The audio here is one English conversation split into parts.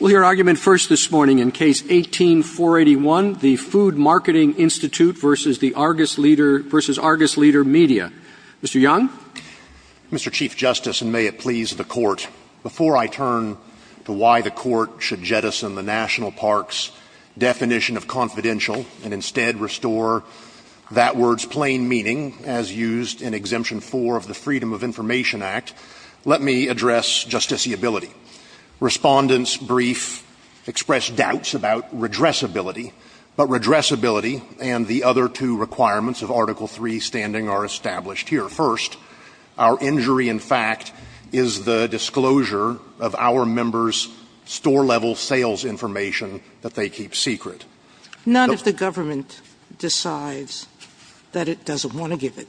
We'll hear argument first this morning in Case 18-481, the Food Marketing Institute v. Argus Leader Media. Mr. Young? Mr. Chief Justice, and may it please the Court, before I turn to why the Court should jettison the National Park's definition of confidential and instead restore that word's plain meaning, as used in Exemption 4 of the Freedom of Information Act, let me address justiciability. Respondents brief express doubts about redressability, but redressability and the other two requirements of Article III standing are established here. First, our injury, in fact, is the disclosure of our members' store-level sales information that they keep secret. Not if the government decides that it doesn't want to give it.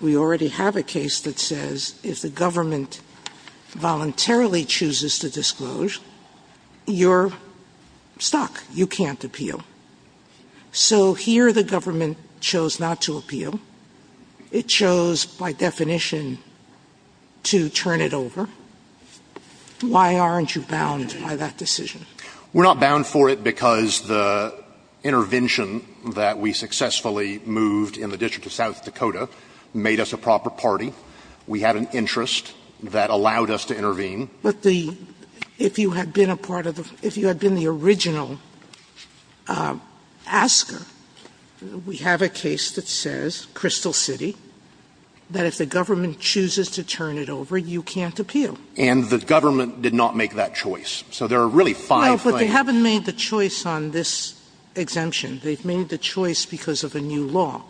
We already have a case that says if the government voluntarily chooses to disclose, you're stuck. You can't appeal. So here the government chose not to appeal. It chose, by definition, to turn it over. Why aren't you bound by that decision? We're not bound for it because the intervention that we successfully moved in the District of South Dakota made us a proper party. We had an interest that allowed us to intervene. But the – if you had been a part of the – if you had been the original asker, we have a case that says, Crystal City, that if the government chooses to turn it over, you can't appeal. And the government did not make that choice. So there are really five things. Well, but they haven't made the choice on this exemption. They've made the choice because of a new law.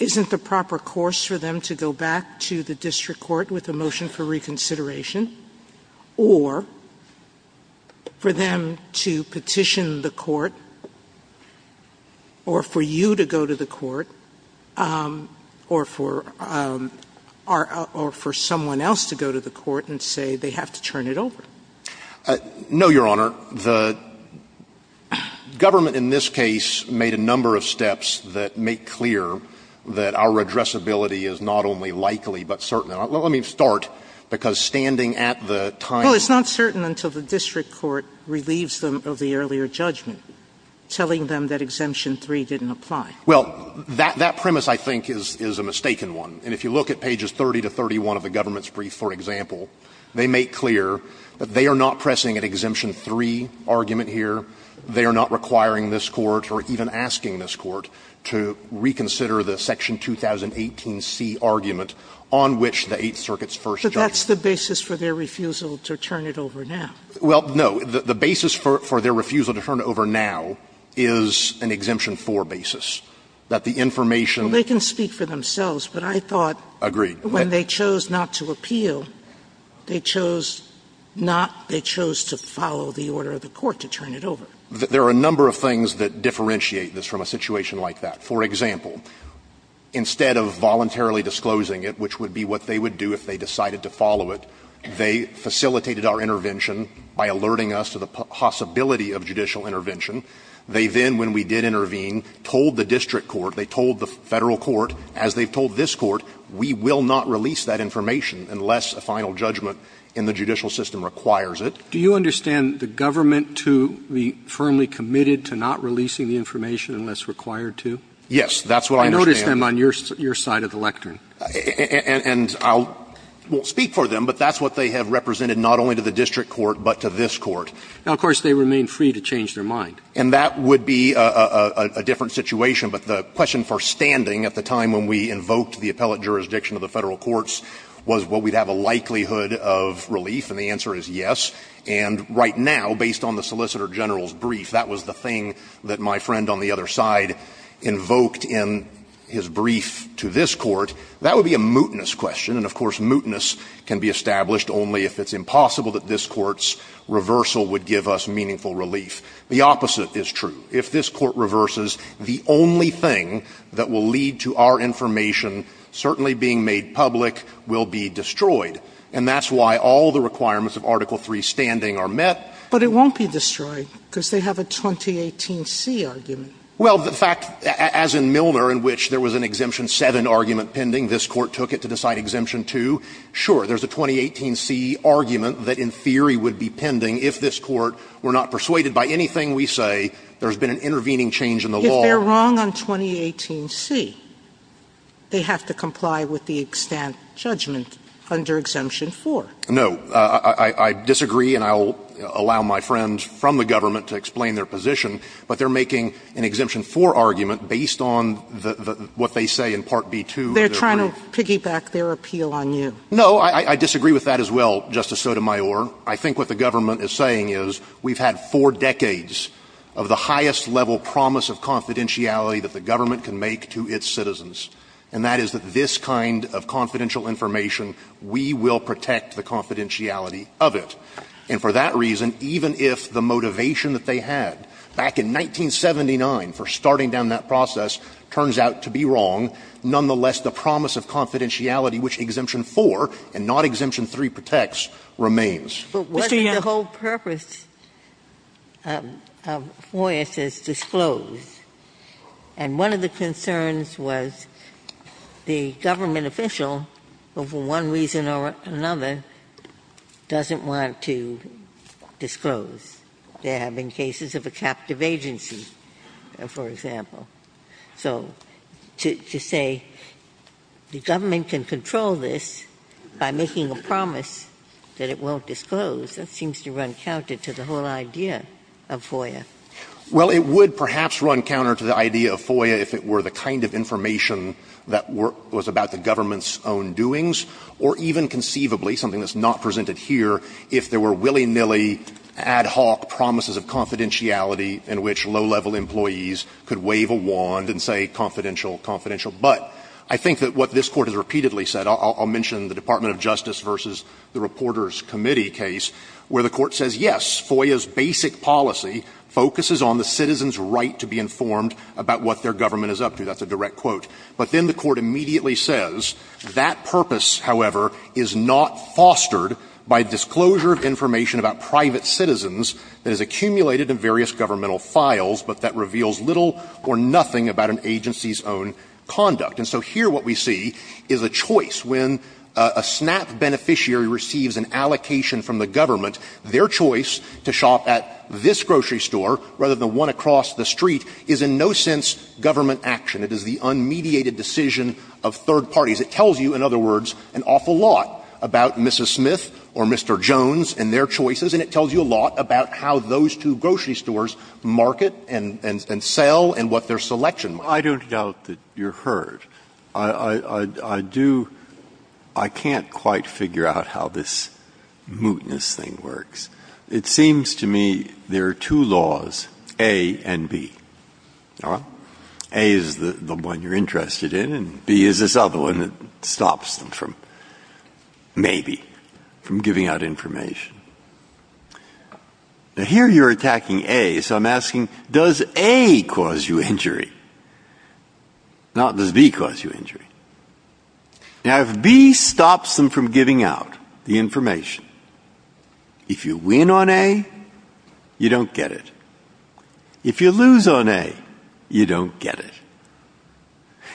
Isn't the proper course for them to go back to the district court with a motion for reconsideration or for them to petition the court or for you to go to the court or for our – or for someone else to go to the court and say they have to turn it over? No, Your Honor. The government in this case made a number of steps that make clear that the district court makes clear that our addressability is not only likely but certain. Now, let me start, because standing at the time of the – Well, it's not certain until the district court relieves them of the earlier judgment, telling them that Exemption 3 didn't apply. Well, that premise, I think, is a mistaken one. And if you look at pages 30 to 31 of the government's brief, for example, they make clear that they are not pressing an Exemption 3 argument here. They are not requiring this Court or even asking this Court to reconsider the Section 2018C argument on which the Eighth Circuit's first judgment. But that's the basis for their refusal to turn it over now. Well, no. The basis for their refusal to turn it over now is an Exemption 4 basis, that the information – Well, they can speak for themselves, but I thought – Agreed. But they can speak for themselves. But they can't speak for the Court to turn it over. There are a number of things that differentiate this from a situation like that. For example, instead of voluntarily disclosing it, which would be what they would do if they decided to follow it, they facilitated our intervention by alerting us to the possibility of judicial intervention. They then, when we did intervene, told the district court, they told the Federal court, as they've told this court, we will not release that information unless a final judgment in the judicial system requires it. Do you understand the government to be firmly committed to not releasing the information unless required to? Yes, that's what I understand. I noticed them on your side of the lectern. And I'll speak for them, but that's what they have represented not only to the district court, but to this Court. Now, of course, they remain free to change their mind. And that would be a different situation. But the question for standing at the time when we invoked the appellate jurisdiction of the Federal courts was, well, we'd have a likelihood of relief, and the answer is yes. And right now, based on the Solicitor General's brief, that was the thing that my friend on the other side invoked in his brief to this Court. That would be a mootness question. And, of course, mootness can be established only if it's impossible that this Court's reversal would give us meaningful relief. The opposite is true. If this Court reverses, the only thing that will lead to our information certainly being made public will be destroyed. And that's why all the requirements of Article III standing are met. Sotomayor But it won't be destroyed, because they have a 2018C argument. Stewart Well, the fact, as in Milner, in which there was an Exemption 7 argument pending, this Court took it to decide Exemption 2, sure, there's a 2018C argument that in theory would be pending if this Court were not persuaded by anything we say there's been an intervening change in the law. Sotomayor They're wrong on 2018C. They have to comply with the extent judgment under Exemption 4. Stewart No. I disagree, and I'll allow my friends from the government to explain their position, but they're making an Exemption 4 argument based on the what they say in Part B2. Sotomayor They're trying to piggyback their appeal on you. Stewart No. I disagree with that as well, Justice Sotomayor. I think what the government is saying is we've had four decades of the highest level promise of confidentiality that the government can make to its citizens, and that is that this kind of confidential information, we will protect the confidentiality of it. And for that reason, even if the motivation that they had back in 1979 for starting down that process turns out to be wrong, nonetheless, the promise of confidentiality which Exemption 4 and not Exemption 3 protects remains. Ginsburg But wasn't the whole purpose of Foyer says disclose, and one of the concerns was the government official, for one reason or another, doesn't want to disclose. There have been cases of a captive agency, for example. So to say the government can control this by making a promise that it won't disclose, that seems to run counter to the whole idea of Foyer. Stewart Well, it would perhaps run counter to the idea of Foyer if it were the kind of information that was about the government's own doings, or even conceivably something that's not presented here, if there were willy-nilly, ad hoc promises of confidentiality in which low-level employees could wave a wand and say, confidential, confidential. But I think that what this Court has repeatedly said, I'll mention the Department of Justice v. the Reporters' Committee case, where the Court says, yes, Foyer's basic policy focuses on the citizens' right to be informed about what their government is up to. That's a direct quote. But then the Court immediately says that purpose, however, is not fostered by disclosure of information about private citizens that is accumulated in various governmental files, but that reveals little or nothing about an agency's own conduct. And so here what we see is a choice. When a SNAP beneficiary receives an allocation from the government, their choice to shop at this grocery store rather than one across the street is in no sense government action. It is the unmediated decision of third parties. It tells you, in other words, an awful lot about Mrs. Smith or Mr. Jones and their choices, and it tells you a lot about how those two grocery stores market and sell and what their selection might be. Breyer. I don't doubt that you're heard. I do — I can't quite figure out how this mootness thing works. It seems to me there are two laws, A and B. Well, A is the one you're interested in, and B is this other one that stops them from — maybe — from giving out information. Now, here you're attacking A, so I'm asking, does A cause you injury? Not, does B cause you injury? Now, if B stops them from giving out the information, if you win on A, you don't get it. If you lose on A, you don't get it.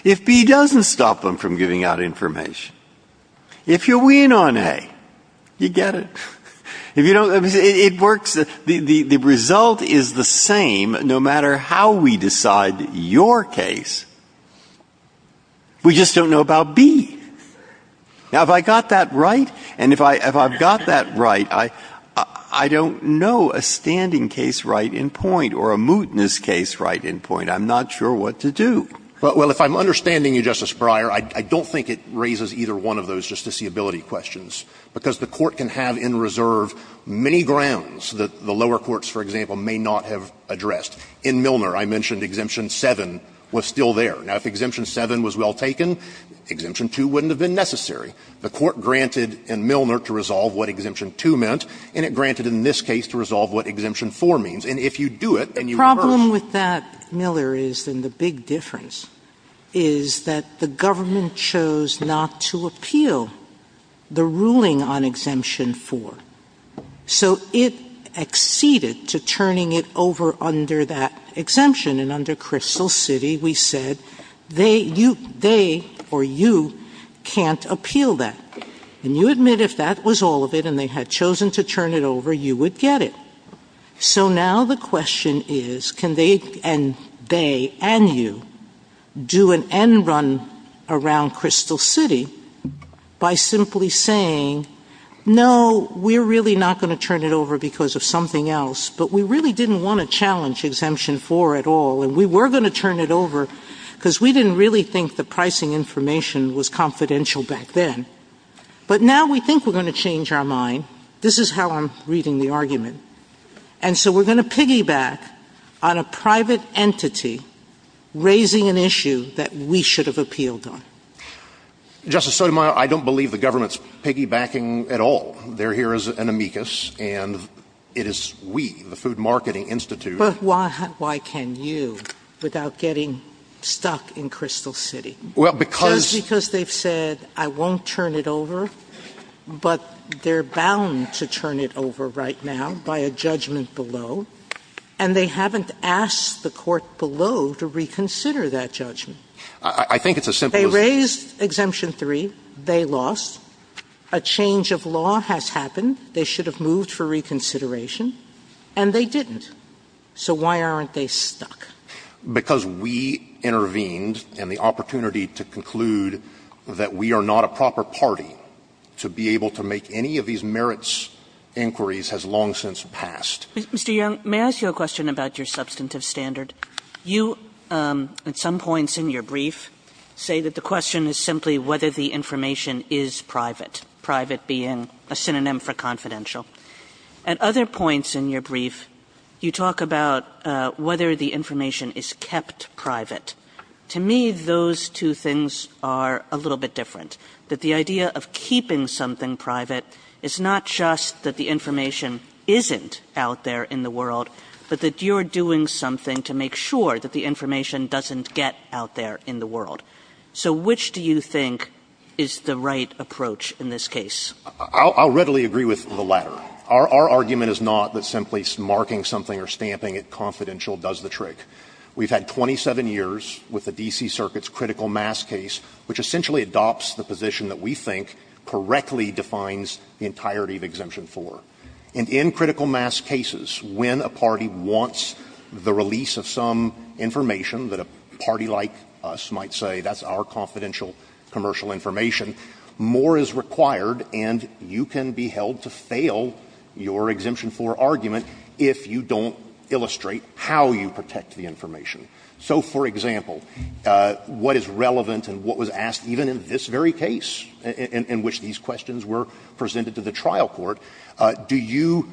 If B doesn't stop them from giving out information, if you win on A, you get it. If you don't — it works — the result is the same no matter how we decide your case. We just don't know about B. Now, if I got that right, and if I've got that right, I don't know a standing case right in point or a mootness case right in point. I'm not sure what to do. Well, if I'm understanding you, Justice Breyer, I don't think it raises either one of those justiciability questions, because the Court can have in reserve many grounds that the lower courts, for example, may not have addressed. In Milner, I mentioned Exemption 7 was still there. Now, if Exemption 7 was well taken, Exemption 2 wouldn't have been necessary. The Court granted in Milner to resolve what Exemption 2 meant, and it granted in this case to resolve what Exemption 4 means. And if you do it, and you rehearse — Sotomayor, the problem with that, Miller, is, and the big difference, is that the government chose not to appeal the ruling on Exemption 4. So it acceded to turning it over under that exemption. And under Crystal City, we said, they or you can't appeal that. And you admit if that was all of it, and they had chosen to turn it over, you would get it. So now the question is, can they and you do an end run around Crystal City by simply saying, no, we're really not going to turn it over because of something else, but we really didn't want to challenge Exemption 4 at all, and we were going to turn it over because we didn't really think the pricing information was confidential back then. But now we think we're going to change our mind. This is how I'm reading the argument. And so we're going to piggyback on a private entity raising an issue that we should have appealed on. Justice Sotomayor, I don't believe the government's piggybacking at all. They're here as an amicus, and it is we, the Food Marketing Institute. Sotomayor, but why can you, without getting stuck in Crystal City? Well, because they've said, I won't turn it over, but they're bound to turn it over right now by a judgment below, and they haven't asked the court below to reconsider that judgment. I think it's as simple as they raised Exemption 3, they lost. A change of law has happened. They should have moved for reconsideration, and they didn't. So why aren't they stuck? Because we intervened, and the opportunity to conclude that we are not a proper party to be able to make any of these merits inquiries has long since passed. Mr. Young, may I ask you a question about your substantive standard? You, at some points in your brief, say that the question is simply whether the information is private, private being a synonym for confidential. At other points in your brief, you talk about whether the information is kept private. To me, those two things are a little bit different, that the idea of keeping something private is not just that the information isn't out there in the world, but that you're doing something to make sure that the information doesn't get out there in the world. So which do you think is the right approach in this case? I'll readily agree with the latter. Our argument is not that simply marking something or stamping it confidential does the trick. We've had 27 years with the D.C. Circuit's critical mass case, which essentially adopts the position that we think correctly defines the entirety of Exemption 4. And in critical mass cases, when a party wants the release of some information that a party like us might say, that's our confidential commercial information, more is required and you can be held to fail your Exemption 4 argument if you don't illustrate how you protect the information. So, for example, what is relevant and what was asked even in this very case in which these questions were presented to the trial court, do you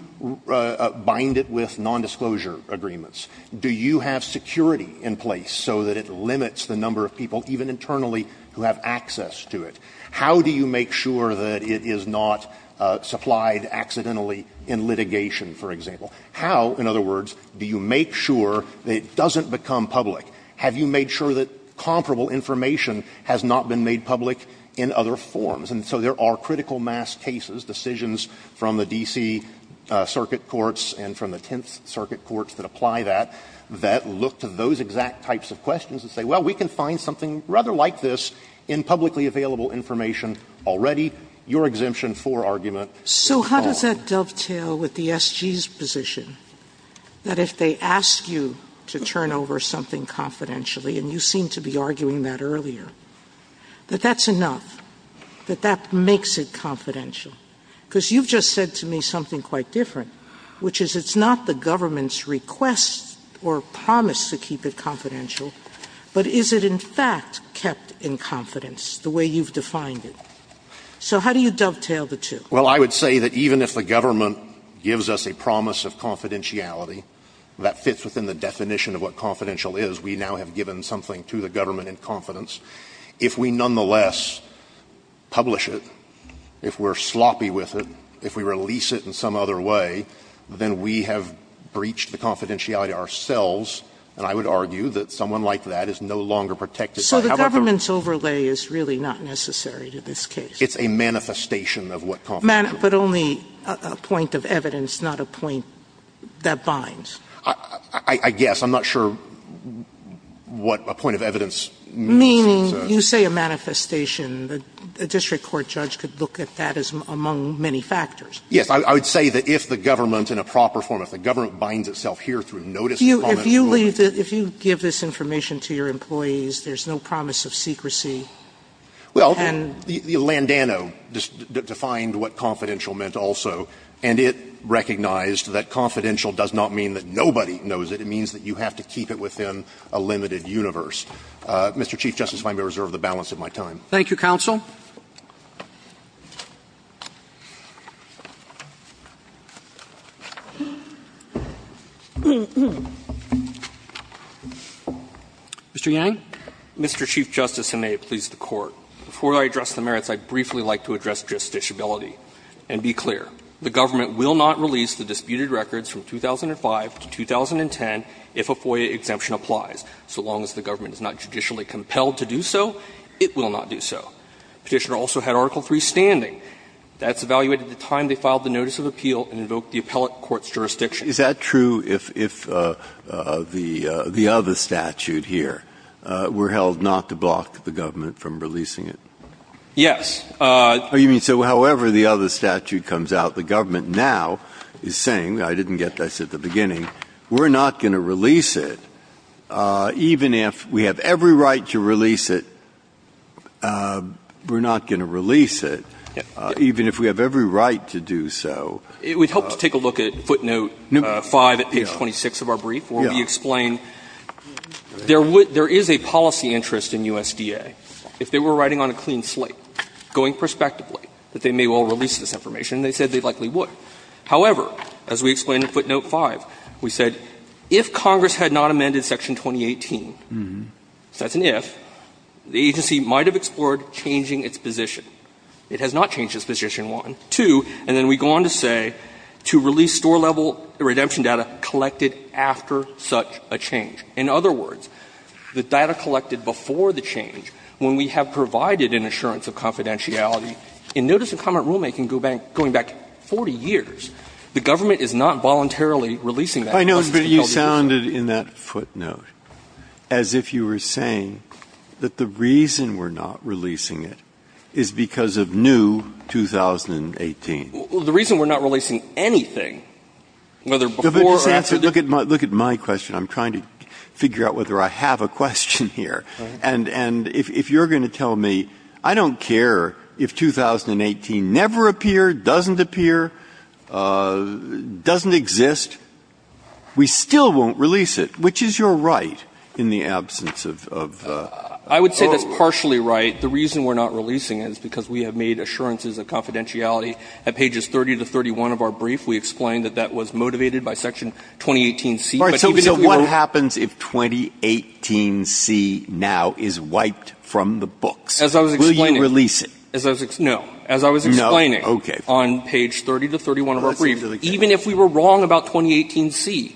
bind it with nondisclosure agreements? Do you have security in place so that it limits the number of people, even internally, who have access to it? How do you make sure that it is not supplied accidentally in litigation, for example? How, in other words, do you make sure that it doesn't become public? Have you made sure that comparable information has not been made public in other forms? And so there are critical mass cases, decisions from the D.C. Circuit courts and from the Tenth Circuit courts that apply that, that look to those exact types of questions and say, well, we can find something rather like this in publicly available information already. Your Exemption 4 argument is false. Sotomayor, So how does that dovetail with the SG's position, that if they ask you to turn over something confidentially, and you seem to be arguing that earlier, that that's enough, that that makes it confidential? Because you've just said to me something quite different, which is it's not the government's request or promise to keep it confidential, but is it in fact kept in confidence the way you've defined it. So how do you dovetail the two? Stewart. Well, I would say that even if the government gives us a promise of confidentiality that fits within the definition of what confidential is, we now have given something to the government in confidence. If we nonetheless publish it, if we're sloppy with it, if we release it in some other way, then we have breached the confidentiality ourselves, and I would argue that someone like that is no longer protected by how the government's overlay is really not necessary to this case. It's a manifestation of what confidentiality is. But only a point of evidence, not a point that binds. I guess. I'm not sure what a point of evidence means. Sotomayor, you say a manifestation. A district court judge could look at that as among many factors. Yes. I would say that if the government, in a proper form, if the government binds itself here through notice of confidentiality. If you give this information to your employees, there's no promise of secrecy. Well, Landano defined what confidential meant also, and it recognized that confidential does not mean that nobody knows it. It means that you have to keep it within a limited universe. Mr. Chief Justice, if I may reserve the balance of my time. Thank you, counsel. Mr. Yang. Mr. Chief Justice, and may it please the Court. Before I address the merits, I'd briefly like to address justiciability and be clear. The government will not release the disputed records from 2005 to 2010 if a FOIA exemption applies. So long as the government is not judicially compelled to do so, it will not do so. Petitioner also had Article III standing. That's evaluated at the time they filed the notice of appeal and invoked the appellate court's jurisdiction. Is that true if the other statute here were held not to block the government from releasing it? Yes. You mean, so however the other statute comes out, the government now is saying I didn't get this at the beginning, we're not going to release it even if we have every right to release it. We're not going to release it even if we have every right to do so. It would help to take a look at footnote 5 at page 26 of our brief where we explain there is a policy interest in USDA. If they were writing on a clean slate, going prospectively, that they may well release this information, they said they likely would. However, as we explain in footnote 5, we said if Congress had not amended section 2018, that's an if, the agency might have explored changing its position. It has not changed its position, one. Two, and then we go on to say, to release store-level redemption data collected after such a change. In other words, the data collected before the change, when we have provided an assurance of confidentiality, in notice and comment rulemaking going back 40 years, the government is not voluntarily releasing that. Breyer. I know, but you sounded in that footnote as if you were saying that the reason we're not releasing it is because of new 2018. Well, the reason we're not releasing anything, whether before or after the new 2018 Look at my question. I'm trying to figure out whether I have a question here, and if you're going to tell me, I don't care if 2018 never appeared, doesn't appear, doesn't exist, we still won't release it, which is your right, in the absence of the rule? I would say that's partially right. The reason we're not releasing it is because we have made assurances of confidentiality at pages 30 to 31 of our brief. We explained that that was motivated by section 2018C. So what happens if 2018C now is wiped from the books? Will you release it? As I was explaining, no. As I was explaining on page 30 to 31 of our brief, even if we were wrong about 2018C,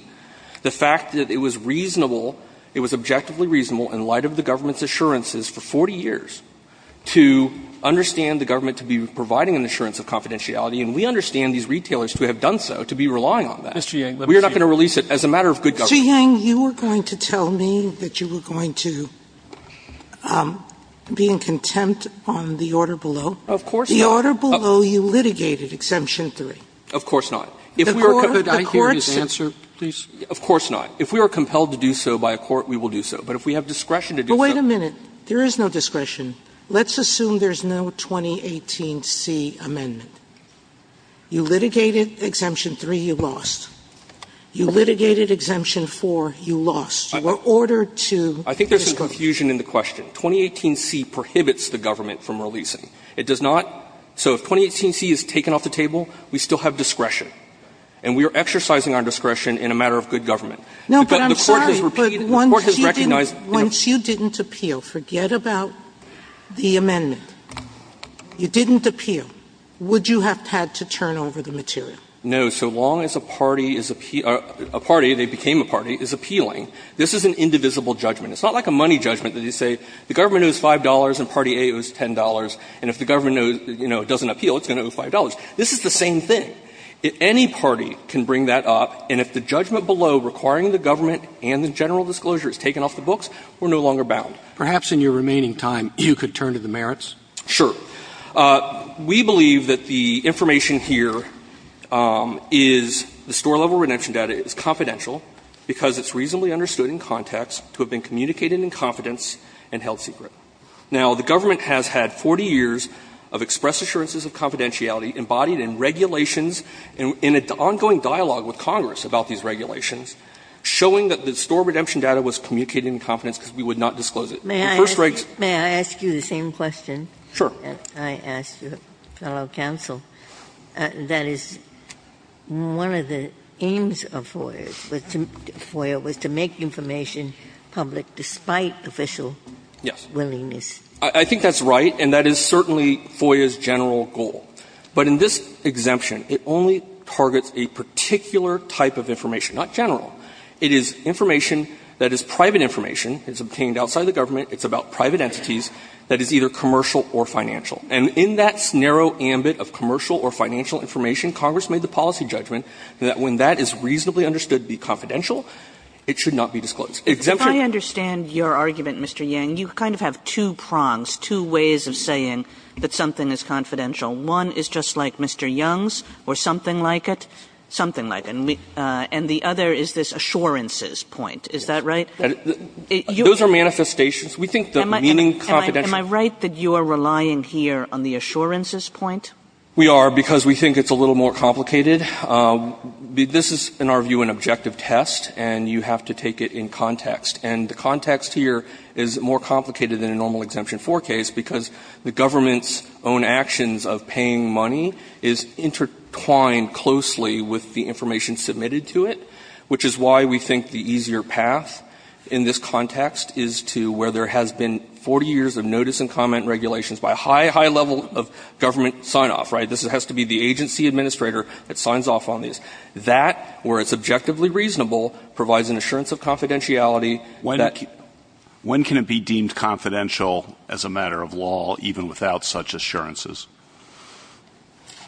the fact that it was reasonable, it was objectively reasonable in light of the government's assurances for 40 years to understand the government to be providing an assurance of confidentiality, and we understand these retailers to have done so, to be relying on that. We are not going to release it as a matter of good government. Sotomayor, you were going to tell me that you were going to be in contempt on the order below. Of course not. The order below, you litigated Exemption 3. Of course not. If we were compelled to do so by a court, we will do so. But if we have discretion to do so But wait a minute. There is no discretion. Let's assume there's no 2018C amendment. You litigated Exemption 3, you lost. You litigated Exemption 4, you lost. You were ordered to disclose. I think there's confusion in the question. 2018C prohibits the government from releasing. It does not. So if 2018C is taken off the table, we still have discretion. And we are exercising our discretion in a matter of good government. No, but I'm sorry. The court has repeated, the court has recognized. Once you didn't appeal, forget about the amendment. You didn't appeal. Would you have had to turn over the material? No. So long as a party is appeal or a party, they became a party, is appealing, this is an indivisible judgment. It's not like a money judgment that you say the government owes $5 and party A owes $10, and if the government, you know, doesn't appeal, it's going to owe $5. This is the same thing. Any party can bring that up, and if the judgment below requiring the government and the general disclosure is taken off the books, we're no longer bound. Perhaps in your remaining time, you could turn to the merits? Sure. We believe that the information here is, the store-level redemption data is confidential because it's reasonably understood in context to have been communicated in confidence and held secret. Now, the government has had 40 years of express assurances of confidentiality embodied in regulations and in an ongoing dialogue with Congress about these regulations showing that the store redemption data was communicated in confidence because we would not disclose it. The first regs. May I ask you the same question? Sure. I ask your fellow counsel, that is, one of the aims of FOIA was to make information public despite official willingness. Yes. I think that's right, and that is certainly FOIA's general goal. But in this exemption, it only targets a particular type of information, not general. It is information that is private information. It's obtained outside the government. It's about private entities that is either commercial or financial. And in that narrow ambit of commercial or financial information, Congress made the policy judgment that when that is reasonably understood to be confidential, it should not be disclosed. If I understand your argument, Mr. Yang, you kind of have two prongs, two ways of saying that something is confidential. One is just like Mr. Young's or something like it, something like it. And the other is this assurances point. Is that right? Those are manifestations. We think the meaning confidentiality Am I right that you are relying here on the assurances point? We are, because we think it's a little more complicated. This is, in our view, an objective test, and you have to take it in context. And the context here is more complicated than a normal Exemption 4 case, because the government's own actions of paying money is intertwined closely with the information submitted to it, which is why we think the easier path. In this context is to where there has been 40 years of notice and comment regulations by a high, high level of government sign-off, right? This has to be the agency administrator that signs off on these. That, where it's objectively reasonable, provides an assurance of confidentiality that When can it be deemed confidential as a matter of law, even without such assurances?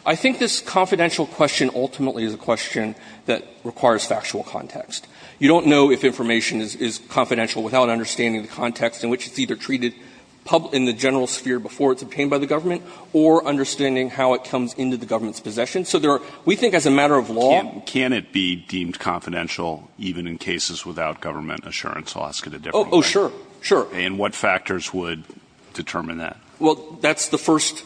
I think this confidential question ultimately is a question that requires factual context. You don't know if information is confidential without understanding the context in which it's either treated in the general sphere before it's obtained by the government or understanding how it comes into the government's possession. So there are, we think as a matter of law. Can it be deemed confidential even in cases without government assurance? I'll ask it a different way. Oh, sure, sure. And what factors would determine that? Well, that's the first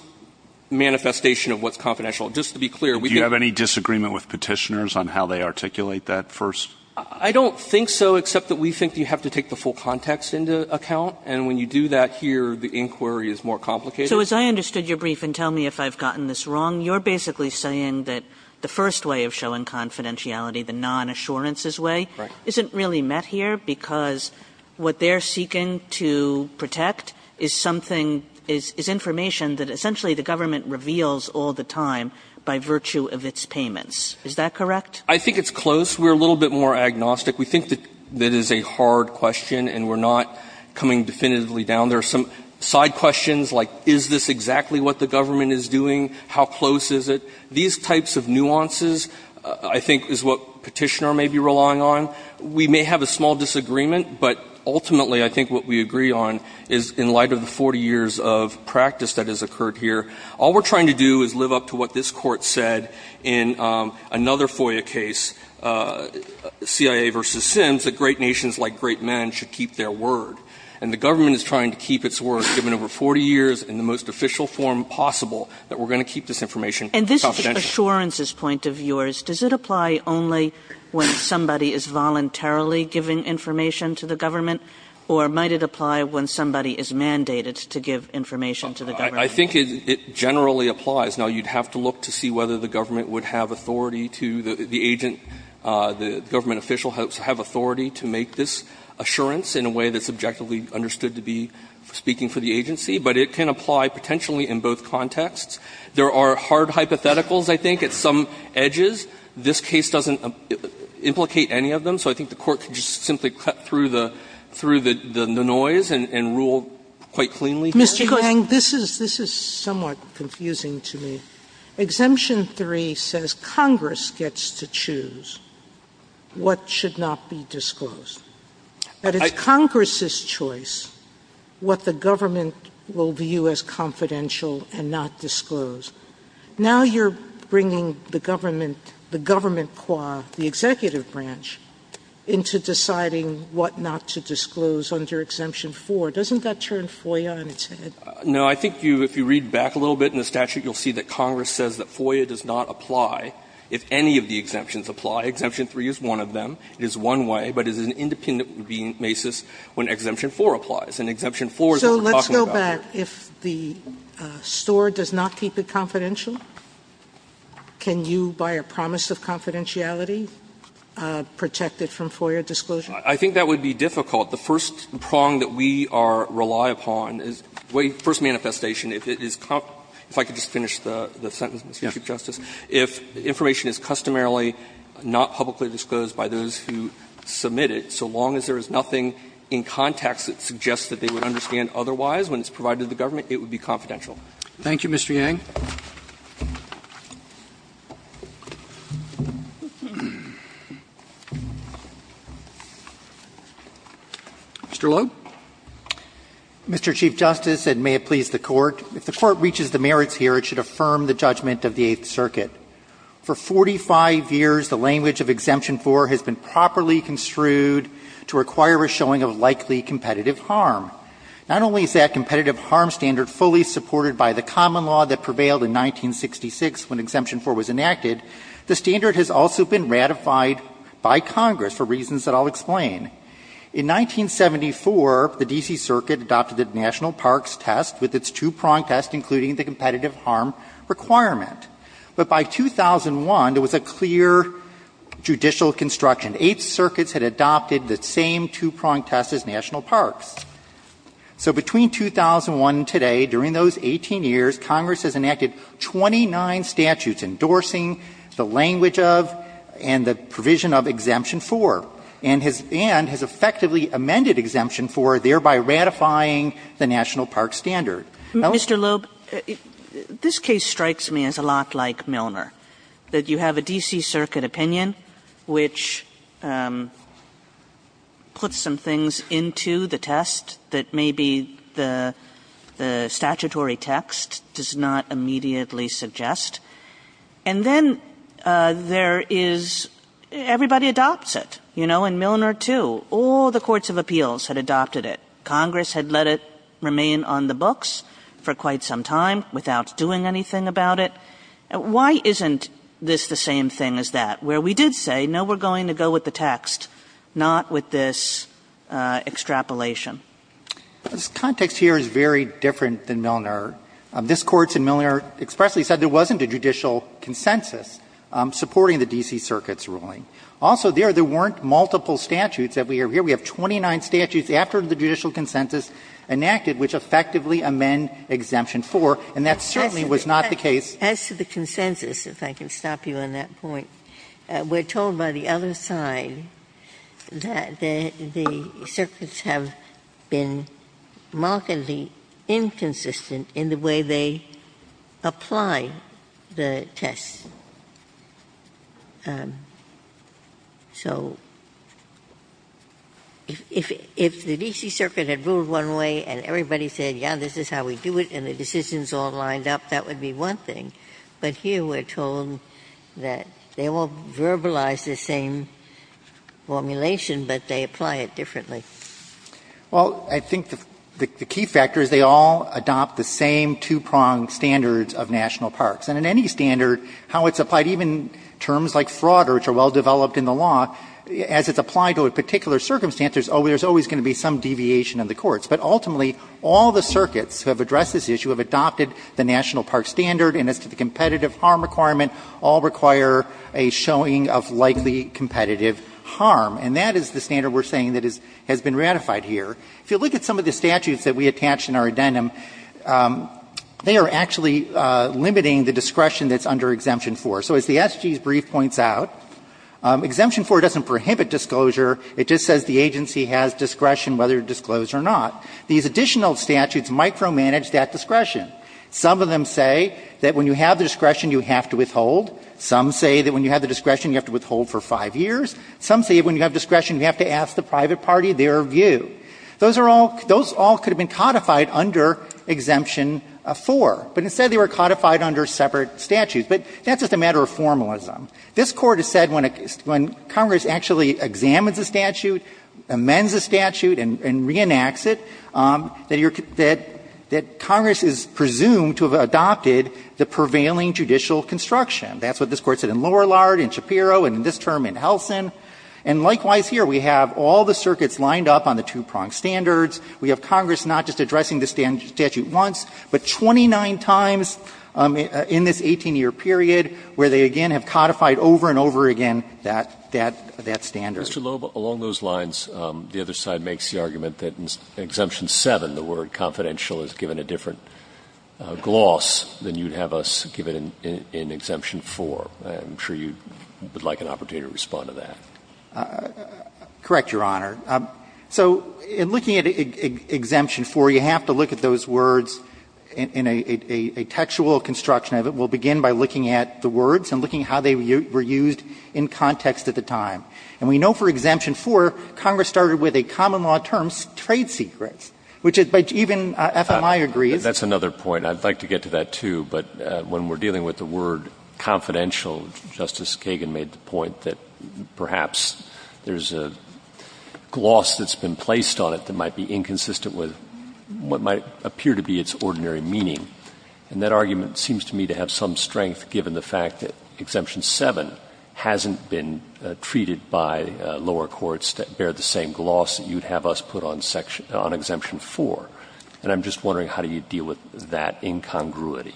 manifestation of what's confidential. Just to be clear, we think. Do you have any disagreement with Petitioners on how they articulate that first? I don't think so, except that we think you have to take the full context into account. And when you do that here, the inquiry is more complicated. So as I understood your brief, and tell me if I've gotten this wrong, you're basically saying that the first way of showing confidentiality, the non-assurance's way, isn't really met here because what they're seeking to protect is something, is information that essentially the government reveals all the time by virtue of its payments. Is that correct? I think it's close. We're a little bit more agnostic. We think that that is a hard question, and we're not coming definitively down there. Some side questions like, is this exactly what the government is doing? How close is it? These types of nuances, I think, is what Petitioner may be relying on. We may have a small disagreement, but ultimately, I think what we agree on is in light of the 40 years of practice that has occurred here, all we're trying to do is in another FOIA case, CIA v. Sims, that great nations, like great men, should keep their word, and the government is trying to keep its word, given over 40 years in the most official form possible, that we're going to keep this information confidential. And this assurance's point of yours, does it apply only when somebody is voluntarily giving information to the government, or might it apply when somebody is mandated to give information to the government? I think it generally applies. Now, you'd have to look to see whether the government would have authority to the agent, the government official, have authority to make this assurance in a way that's objectively understood to be speaking for the agency, but it can apply potentially in both contexts. There are hard hypotheticals, I think, at some edges. This case doesn't implicate any of them, so I think the Court could just simply cut through the noise and rule quite cleanly. Sotomayor, I'm just going to say one more thing. Mr. Yang, this is somewhat confusing to me. Exemption 3 says Congress gets to choose what should not be disclosed. That it's Congress's choice what the government will view as confidential and not disclose. Now you're bringing the government, the government qua, the executive branch, into deciding what not to disclose under Exemption 4. Doesn't that turn FOIA on its head? Yang, I think if you read back a little bit in the statute, you'll see that Congress says that FOIA does not apply if any of the exemptions apply. Exemption 3 is one of them. It is one way, but it is an independent basis when Exemption 4 applies, and Exemption 4 is what we're talking about here. Sotomayor, so let's go back. If the store does not keep it confidential, can you, by a promise of confidentiality, protect it from FOIA disclosure? I think that would be difficult. The first prong that we rely upon is, the first manifestation, if it is, if I could just finish the sentence, Mr. Chief Justice, if information is customarily not publicly disclosed by those who submit it, so long as there is nothing in context that suggests that they would understand otherwise when it's provided to the government, it would be confidential. Thank you, Mr. Yang. Mr. Loeb. Mr. Chief Justice, and may it please the Court, if the Court reaches the merits here, it should affirm the judgment of the Eighth Circuit. For 45 years, the language of Exemption 4 has been properly construed to require a showing of likely competitive harm. Not only is that competitive harm standard fully supported by the common law that prevailed in 1966 when Exemption 4 was enacted, the standard has also been ratified by Congress for reasons that I will explain. In 1974, the D.C. Circuit adopted the National Parks Test with its two-prong test including the competitive harm requirement. But by 2001, there was a clear judicial construction. Eighth Circuit had adopted the same two-prong test as National Parks. So between 2001 and today, during those 18 years, Congress has enacted 29 statutes endorsing the language of and the provision of Exemption 4, and has effectively amended Exemption 4, thereby ratifying the National Parks Standard. Now, Mr. Loeb, this case strikes me as a lot like Milner, that you have a D.C. Circuit opinion which puts some things into the test that maybe the statutory text does not immediately suggest, and then there is — everybody adopts it, you know, in Milner too. All the courts of appeals had adopted it. Congress had let it remain on the books for quite some time without doing anything about it. Why isn't this the same thing as that, where we did say, no, we're going to go with the text, not with this extrapolation? Loeb, Jr. This context here is very different than Milner. This Court in Milner expressly said there wasn't a judicial consensus supporting the D.C. Circuit's ruling. Also, there weren't multiple statutes that we have here. We have 29 statutes after the judicial consensus enacted which effectively amend Exemption 4, and that certainly was not the case. Ginsburg. As to the consensus, if I can stop you on that point, we're told by the other side that the circuits have been markedly inconsistent in the way they apply the test. So if the D.C. Circuit had ruled one way and everybody said, yeah, this is how we do it, and the decisions all lined up, that would be one thing. But here we're told that they won't verbalize the same formulation, but they apply it differently. Well, I think the key factor is they all adopt the same two-pronged standards of national parks. And in any standard, how it's applied, even terms like fraud, which are well developed in the law, as it's applied to a particular circumstance, there's always going to be some deviation in the courts. So the competitive harm requirement all require a showing of likely competitive harm, and that is the standard we're saying that has been ratified here. If you look at some of the statutes that we attached in our addendum, they are actually limiting the discretion that's under Exemption 4. So as the SG's brief points out, Exemption 4 doesn't prohibit disclosure. It just says the agency has discretion whether it's disclosed or not. These additional statutes micromanage that discretion. Some of them say that when you have the discretion, you have to withhold. Some say that when you have the discretion, you have to withhold for five years. Some say when you have discretion, you have to ask the private party their view. Those are all – those all could have been codified under Exemption 4, but instead they were codified under separate statutes. But that's just a matter of formalism. This Court has said when Congress actually examines a statute, amends a statute and reenacts it, that you're – that Congress is presumed to have adopted the prevailing judicial construction. That's what this Court said in Lorillard, in Shapiro, and in this term in Helsin. And likewise here, we have all the circuits lined up on the two-prong standards. We have Congress not just addressing the statute once, but 29 times in this 18-year period where they, again, have codified over and over again that standard. Mr. Loeb, along those lines, the other side makes the argument that in Exemption 7, the word confidential is given a different gloss than you'd have us give it in Exemption 4. I'm sure you would like an opportunity to respond to that. Correct, Your Honor. So in looking at Exemption 4, you have to look at those words in a textual construction of it. We'll begin by looking at the words and looking at how they were used in context at the time. And we know for Exemption 4, Congress started with a common-law term, trade secrets, which even FMI agrees. But that's another point, and I'd like to get to that, too. But when we're dealing with the word confidential, Justice Kagan made the point that perhaps there's a gloss that's been placed on it that might be inconsistent with what might appear to be its ordinary meaning. And that argument seems to me to have some strength, given the fact that Exemption 7 hasn't been treated by lower courts to bear the same gloss that you'd have us put on Exemption 4. And I'm just wondering how do you deal with that incongruity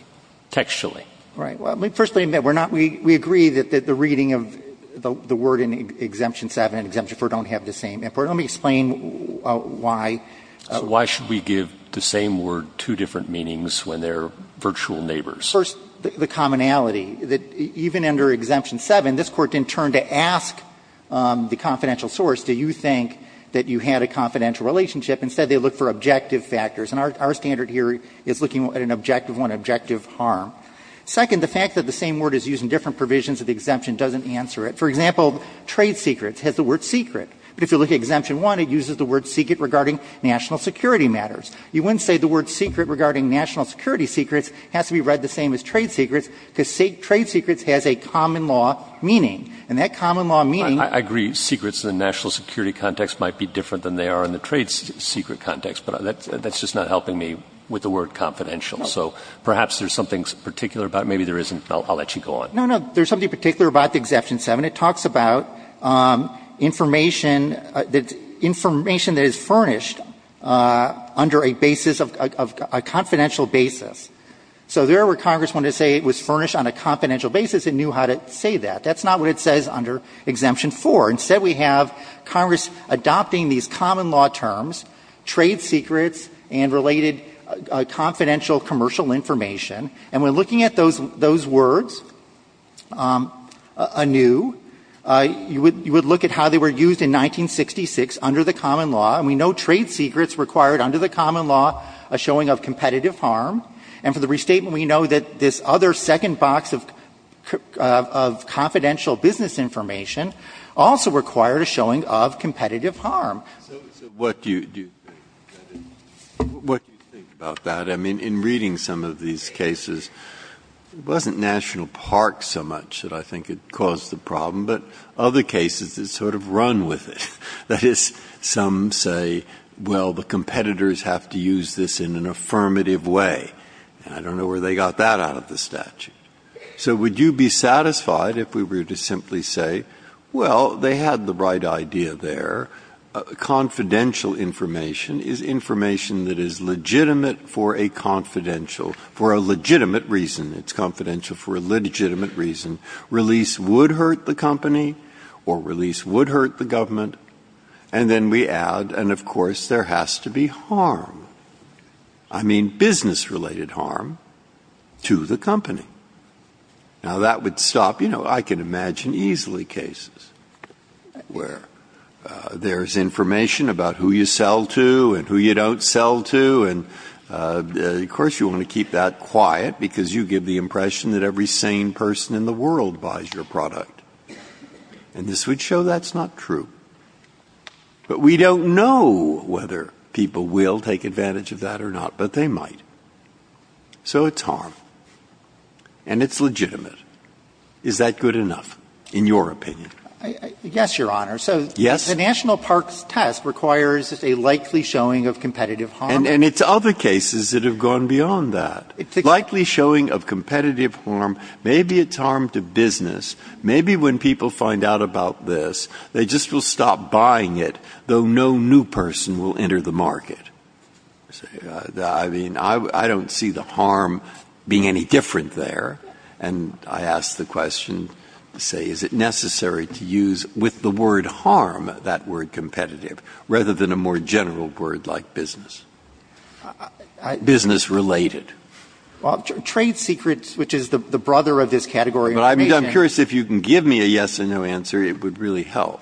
textually? Right. Well, first, we agree that the reading of the word in Exemption 7 and Exemption 4 don't have the same import. Let me explain why. So why should we give the same word two different meanings when they're virtual neighbors? First, the commonality, that even under Exemption 7, this Court didn't turn to ask the confidential source, do you think that you had a confidential relationship? Instead, they looked for objective factors. And our standard here is looking at an objective one, objective harm. Second, the fact that the same word is used in different provisions of the exemption doesn't answer it. For example, trade secrets has the word secret. But if you look at Exemption 1, it uses the word secret regarding national security matters. You wouldn't say the word secret regarding national security secrets has to be read the same as trade secrets, because trade secrets has a common law meaning. And that common law meaning — I agree. Secrets in the national security context might be different than they are in the trade secret context, but that's just not helping me with the word confidential. So perhaps there's something particular about it. Maybe there isn't. I'll let you go on. No, no. There's something particular about the Exemption 7. It talks about information — information that is furnished under a basis of — a confidential basis. So there where Congress wanted to say it was furnished on a confidential basis, it knew how to say that. That's not what it says under Exemption 4. Instead, we have Congress adopting these common law terms, trade secrets and related confidential commercial information. And when looking at those words, anew, you would look at how they were used in 1966 under the common law. And we know trade secrets required under the common law a showing of competitive harm. And for the restatement, we know that this other second box of confidential business information also required a showing of competitive harm. Breyer, what do you think about that? I mean, in reading some of these cases, it wasn't National Park so much that I think it caused the problem, but other cases that sort of run with it. That is, some say, well, the competitors have to use this in an affirmative way. And I don't know where they got that out of the statute. So would you be satisfied if we were to simply say, well, they had the right idea there. Confidential information is information that is legitimate for a confidential for a legitimate reason. It's confidential for a legitimate reason. Release would hurt the company or release would hurt the government. And then we add, and of course, there has to be harm. I mean, business-related harm to the company. Now, that would stop. I can imagine easily cases where there is information about who you sell to and who you don't sell to. And of course, you want to keep that quiet because you give the impression that every sane person in the world buys your product. And this would show that's not true. But we don't know whether people will take advantage of that or not, but they might. So it's harm. And it's legitimate. Is that good enough, in your opinion? Yes, Your Honor. So the national parks test requires a likely showing of competitive harm. And it's other cases that have gone beyond that. Likely showing of competitive harm. Maybe it's harm to business. Maybe when people find out about this, they just will stop buying it, though no new person will enter the market. I mean, I don't see the harm being any different there. And I ask the question, say, is it necessary to use, with the word harm, that word competitive, rather than a more general word like business? Business-related. Well, trade secrets, which is the brother of this category. But I'm curious if you can give me a yes or no answer, it would really help.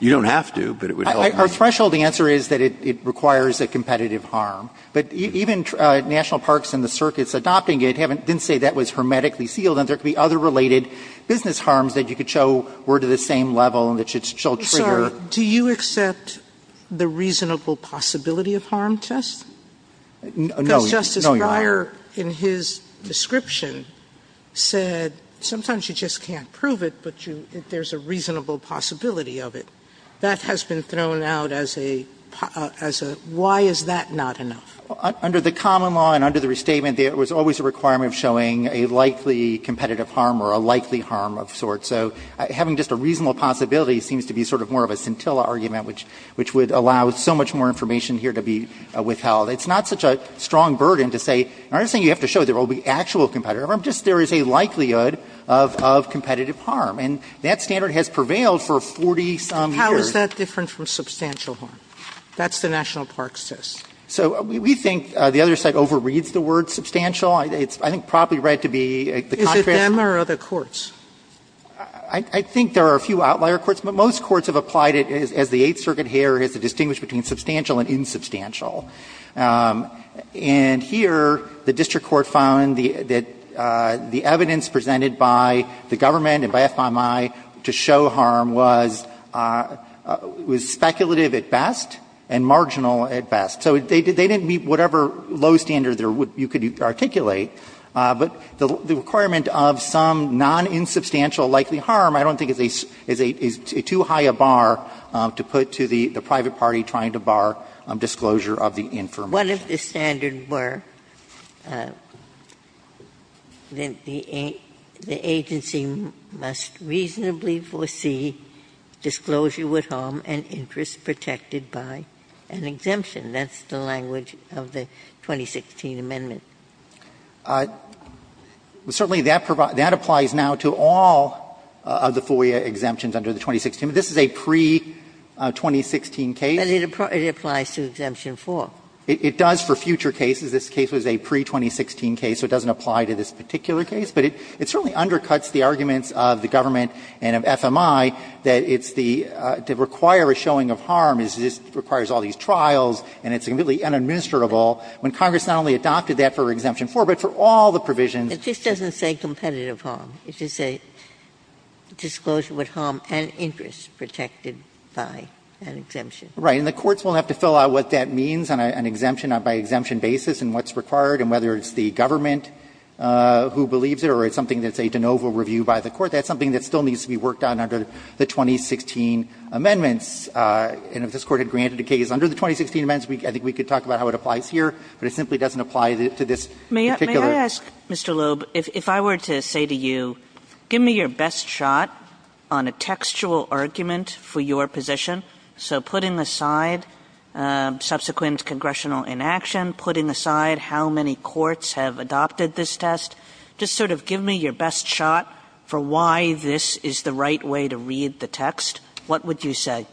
You don't have to, but it would help. Our threshold answer is that it requires a competitive harm. But even national parks and the circuits adopting it didn't say that was hermetically sealed, and there could be other related business harms that you could show were to the same level and that should trigger. Sir, do you accept the reasonable possibility of harm test? No, Your Honor. Because Justice Breyer, in his description, said sometimes you just can't prove it, but there's a reasonable possibility of it. That has been thrown out as a why is that not enough? Under the common law and under the restatement, there was always a requirement of showing a likely competitive harm or a likely harm of sorts. So having just a reasonable possibility seems to be sort of more of a scintilla argument, which would allow so much more information here to be withheld. It's not such a strong burden to say, I'm not saying you have to show there will be actual competitive harm, just there is a likelihood of competitive harm. And that standard has prevailed for 40-some years. How is that different from substantial harm? That's the national parks test. So we think the other side overreads the word substantial. I think it's probably right to be the contrast. Is it them or other courts? I think there are a few outlier courts. But most courts have applied it as the Eighth Circuit here has distinguished between substantial and insubstantial. And here the district court found that the evidence presented by the government and by FBI to show harm was speculative at best and marginal at best. So they didn't meet whatever low standard you could articulate, but the requirement of some non-insubstantial likely harm I don't think is too high a bar to put to the private party trying to bar disclosure of the infirm. Ginsburg. One of the standards were that the agency must reasonably foresee disclosure with harm and interest protected by an exemption. That's the language of the 2016 amendment. Certainly, that applies now to all of the FOIA exemptions under the 2016 amendment. This is a pre-2016 case. But it applies to Exemption 4. It does for future cases. This case was a pre-2016 case, so it doesn't apply to this particular case. But it certainly undercuts the arguments of the government and of FMI that it's the to require a showing of harm is this requires all these trials and it's completely unadministerable when Congress not only adopted that for Exemption 4, but for all the provisions. Ginsburg. It just doesn't say competitive harm. It is a disclosure with harm and interest protected by an exemption. Right. And the courts will have to fill out what that means on an exemption, by exemption basis, and what's required and whether it's the government who believes it or it's something that's a de novo review by the court. That's something that still needs to be worked on under the 2016 amendments. And if this Court had granted a case under the 2016 amendments, I think we could talk about how it applies here. But it simply doesn't apply to this particular. May I ask, Mr. Loeb, if I were to say to you, give me your best shot on a textual argument for your position. So putting aside subsequent congressional inaction, putting aside how many courts have adopted this test. Just sort of give me your best shot for why this is the right way to read the text. What would you say? Loeb,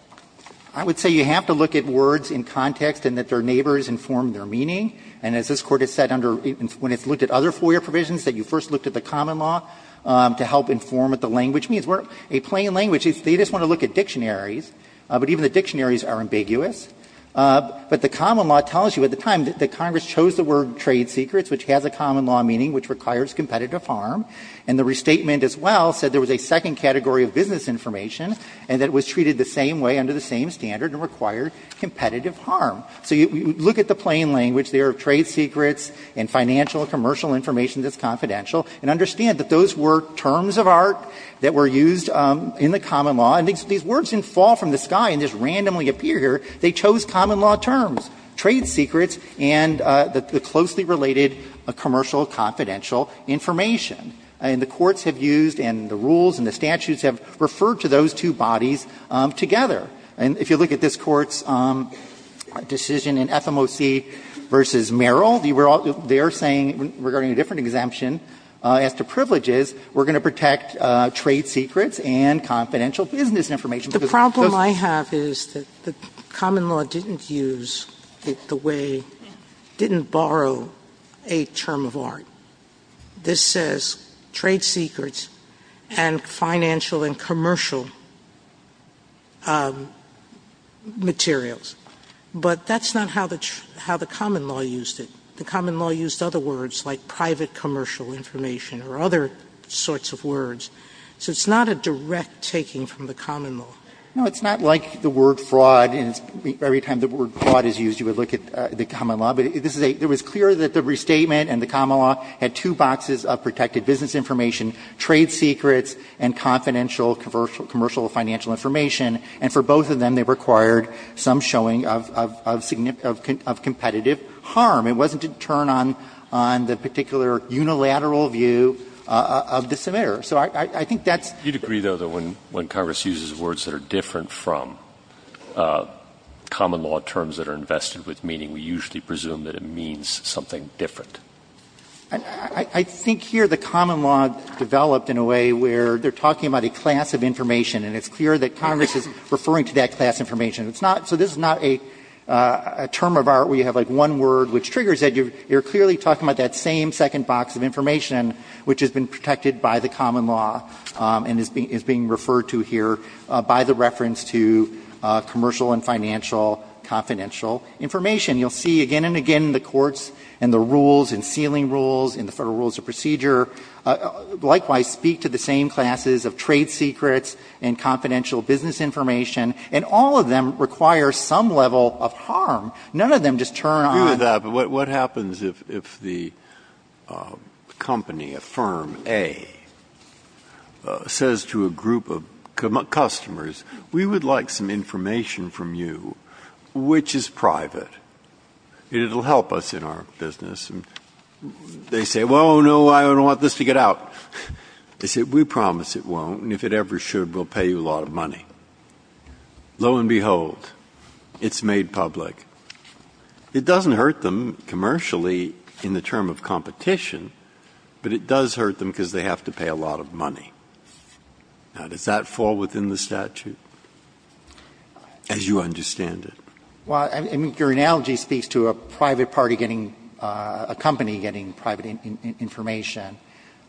I would say you have to look at words in context and that their neighbors inform their meaning. And as this Court has said when it's looked at other FOIA provisions, that you first looked at the common law to help inform what the language means. A plain language, they just want to look at dictionaries. But even the dictionaries are ambiguous. But the common law tells you at the time that Congress chose the word trade secrets, which has a common law meaning, which requires competitive harm. And the restatement as well said there was a second category of business information and that it was treated the same way, under the same standard, and required competitive harm. So you look at the plain language there of trade secrets and financial and commercial information that's confidential, and understand that those were terms of art that were used in the common law. And these words didn't fall from the sky and just randomly appear here. They chose common law terms, trade secrets, and the closely related commercial and confidential information. And the courts have used and the rules and the statutes have referred to those two bodies together. And if you look at this Court's decision in FMOC v. Merrill, they were all there saying, regarding a different exemption as to privileges, we're going to protect trade secrets and confidential business information. The problem I have is that the common law didn't use it the way, didn't borrow a term of art. This says trade secrets and financial and commercial materials. But that's not how the common law used it. The common law used other words like private commercial information or other sorts of words. So it's not a direct taking from the common law. No, it's not like the word fraud. And every time the word fraud is used, you would look at the common law. But this is a – it was clear that the restatement and the common law had two boxes of protected business information, trade secrets, and confidential commercial and financial information. And for both of them, they required some showing of competitive harm. It wasn't a turn on the particular unilateral view of the submitter. So I think that's – You'd agree, though, that when Congress uses words that are different from common law terms that are invested with meaning, we usually presume that it means something different. I think here the common law developed in a way where they're talking about a class of information. And it's clear that Congress is referring to that class of information. It's not – so this is not a term of art where you have like one word which triggers it. You're clearly talking about that same second box of information which has been protected by the common law and is being referred to here by the reference to commercial and financial confidential information. You'll see again and again the courts and the rules and sealing rules and the Federal Rules of Procedure likewise speak to the same classes of trade secrets and confidential business information. And all of them require some level of harm. None of them just turn on – The FDA says to a group of customers, we would like some information from you which is private. It'll help us in our business. And they say, well, no, I don't want this to get out. They say, we promise it won't. And if it ever should, we'll pay you a lot of money. Lo and behold, it's made public. It doesn't hurt them commercially in the term of competition, but it does hurt them because they have to pay a lot of money. Now, does that fall within the statute as you understand it? Well, I mean, your analogy speaks to a private party getting – a company getting private information.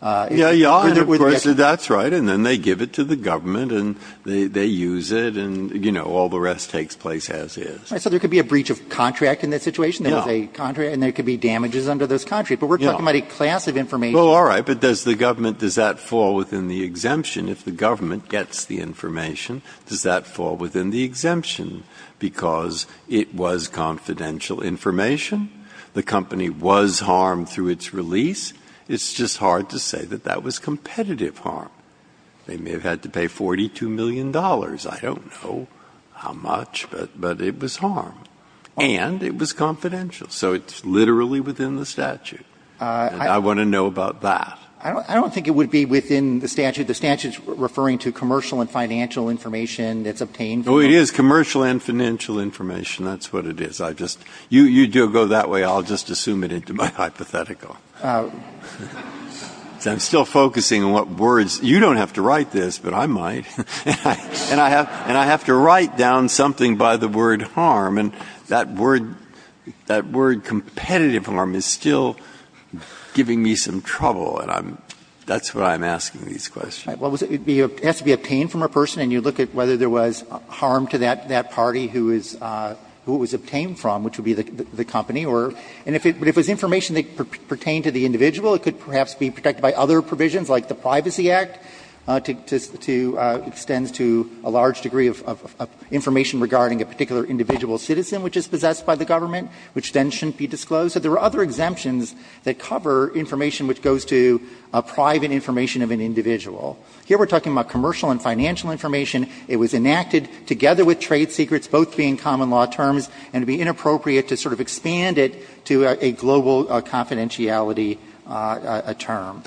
Yeah, yeah. And of course, that's right. And then they give it to the government and they use it and, you know, all the rest takes place as is. So there could be a breach of contract in that situation. Yeah. There was a contract and there could be damages under those contracts. Yeah. But we're talking about a class of information. Well, all right. But does the government – does that fall within the exemption? If the government gets the information, does that fall within the exemption? Because it was confidential information. The company was harmed through its release. It's just hard to say that that was competitive harm. They may have had to pay $42 million. I don't know how much, but it was harm. And it was confidential. So it's literally within the statute. And I want to know about that. I don't think it would be within the statute. The statute's referring to commercial and financial information that's obtained. Oh, it is commercial and financial information. That's what it is. I just – you go that way. I'll just assume it into my hypothetical. I'm still focusing on what words – you don't have to write this, but I might. And I have to write down something by the word harm. And that word – that word competitive harm is still giving me some trouble. And I'm – that's why I'm asking these questions. Well, it has to be obtained from a person. And you look at whether there was harm to that party who it was obtained from, which would be the company. And if it was information that pertained to the individual, it could perhaps be protected by other provisions, like the Privacy Act, to – extends to a large degree of information regarding a particular individual citizen which is possessed by the government, which then shouldn't be disclosed. So there are other exemptions that cover information which goes to private information of an individual. Here we're talking about commercial and financial information. It was enacted together with trade secrets, both being common law terms, and it would be inappropriate to sort of expand it to a global confidentiality term.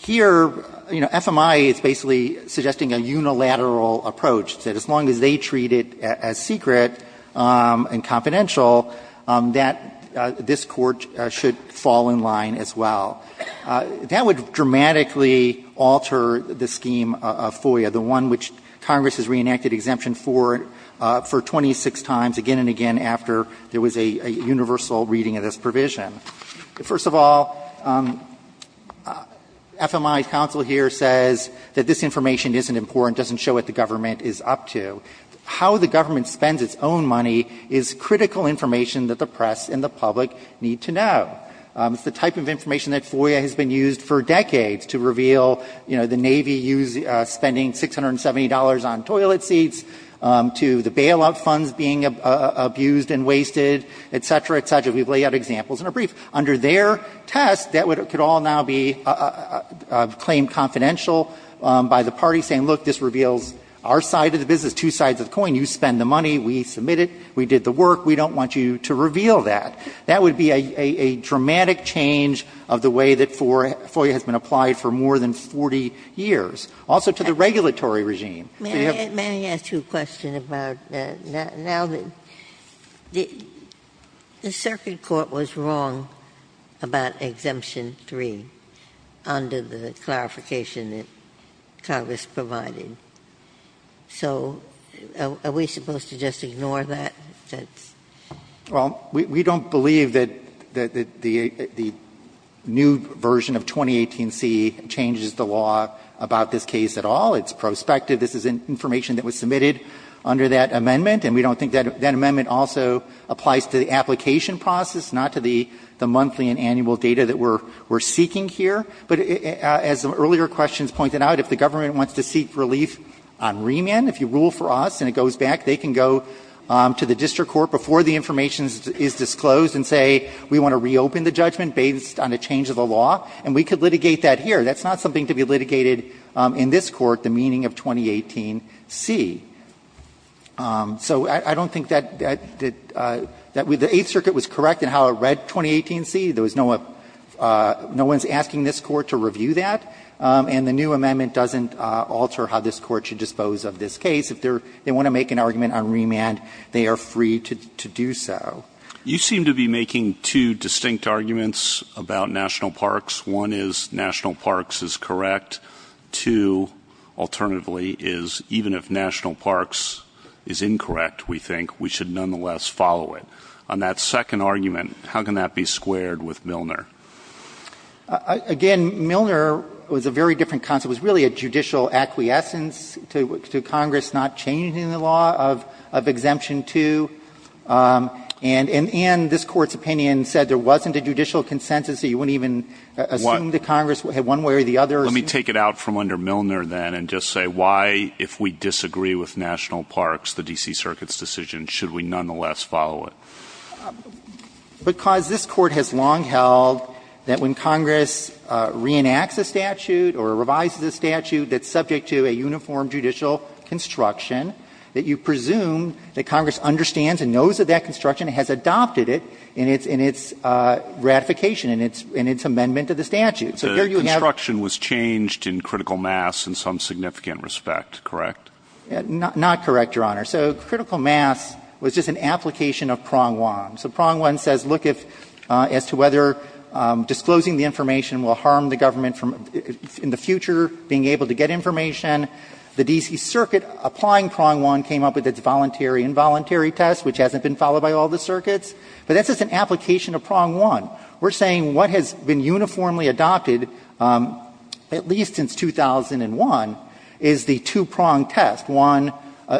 Here, you know, FMI is basically suggesting a unilateral approach, that as long as they treat it as secret and confidential, that this Court should fall in line as well. That would dramatically alter the scheme of FOIA, the one which Congress has reenacted exemption for, for 26 times, again and again after there was a universal reading of this provision. First of all, FMI's counsel here says that this information isn't important, doesn't show what the government is up to. How the government spends its own money is critical information that the press and the public need to know. It's the type of information that FOIA has been used for decades to reveal, you know, the Navy spending $670 on toilet seats, to the bailout funds being abused and wasted, et cetera, et cetera. We've laid out examples in a brief. Under their test, that could all now be claimed confidential by the party, saying, look, this reveals our side of the business, two sides of the coin. You spend the money, we submit it, we did the work. We don't want you to reveal that. That would be a dramatic change of the way that FOIA has been applied for more than 40 years, also to the regulatory regime. May I ask you a question about that? Now, the circuit court was wrong about Exemption 3 under the clarification that Congress provided. So are we supposed to just ignore that? Well, we don't believe that the new version of 2018C changes the law about this case at all. It's prospective. This is information that was submitted under that amendment. And we don't think that that amendment also applies to the application process, not to the monthly and annual data that we're seeking here. But as the earlier questions pointed out, if the government wants to seek relief on remand, if you rule for us and it goes back, they can go to the district court before the information is disclosed and say, we want to reopen the judgment based on a change of the law. And we could litigate that here. That's not something to be litigated in this court, the meaning of 2018C. So I don't think that the Eighth Circuit was correct in how it read 2018C. There was no one's asking this court to review that. And the new amendment doesn't alter how this court should dispose of this case. If they want to make an argument on remand, they are free to do so. You seem to be making two distinct arguments about national parks. One is national parks is correct. Two, alternatively, is even if national parks is incorrect, we think, we should nonetheless follow it. On that second argument, how can that be squared with Milner? Again, Milner was a very different concept. It was really a judicial acquiescence to Congress not changing the law of Exemption 2. And in this Court's opinion said there wasn't a judicial consensus, so you wouldn't even assume that Congress had one way or the other. Let me take it out from under Milner, then, and just say why, if we disagree with national parks, the D.C. Circuit's decision, should we nonetheless follow it? Because this Court has long held that when Congress reenacts a statute or revises a statute that's subject to a uniform judicial construction, that you presume that Congress understands and knows of that construction and has adopted it in its ratification, in its amendment to the statute. So here you have... The construction was changed in critical mass in some significant respect, correct? Not correct, Your Honor. So critical mass was just an application of Prong 1. So Prong 1 says, look if, as to whether disclosing the information will harm the government in the future being able to get information. The D.C. Circuit applying Prong 1 came up with its voluntary involuntary test, which hasn't been followed by all the circuits. But that's just an application of Prong 1. We're saying what has been uniformly adopted, at least since 2001, is the two-prong test. One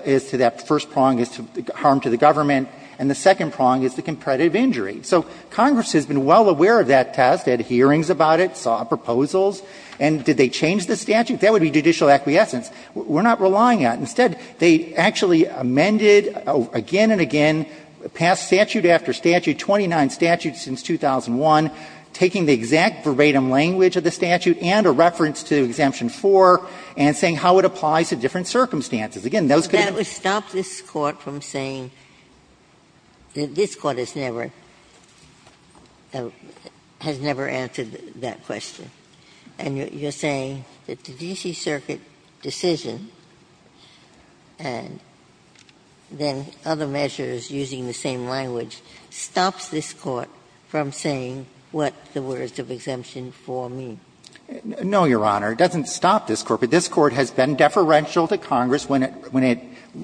is to that first prong is to harm to the government, and the second prong is the competitive injury. So Congress has been well aware of that test, had hearings about it, saw proposals. And did they change the statute? That would be judicial acquiescence. We're not relying on it. Instead, they actually amended again and again, passed statute after statute, 29 statutes since 2001, taking the exact verbatim language of the statute and a reference to Exemption 4, and saying how it applies to different circumstances. Again, those could be ---- But that would stop this Court from saying that this Court has never, has never answered that question. And you're saying that the D.C. Circuit decision, and then other measures using the same language, stops this Court from saying what the words of Exemption 4 mean? No, Your Honor. It doesn't stop this Court. But this Court has been deferential to Congress when it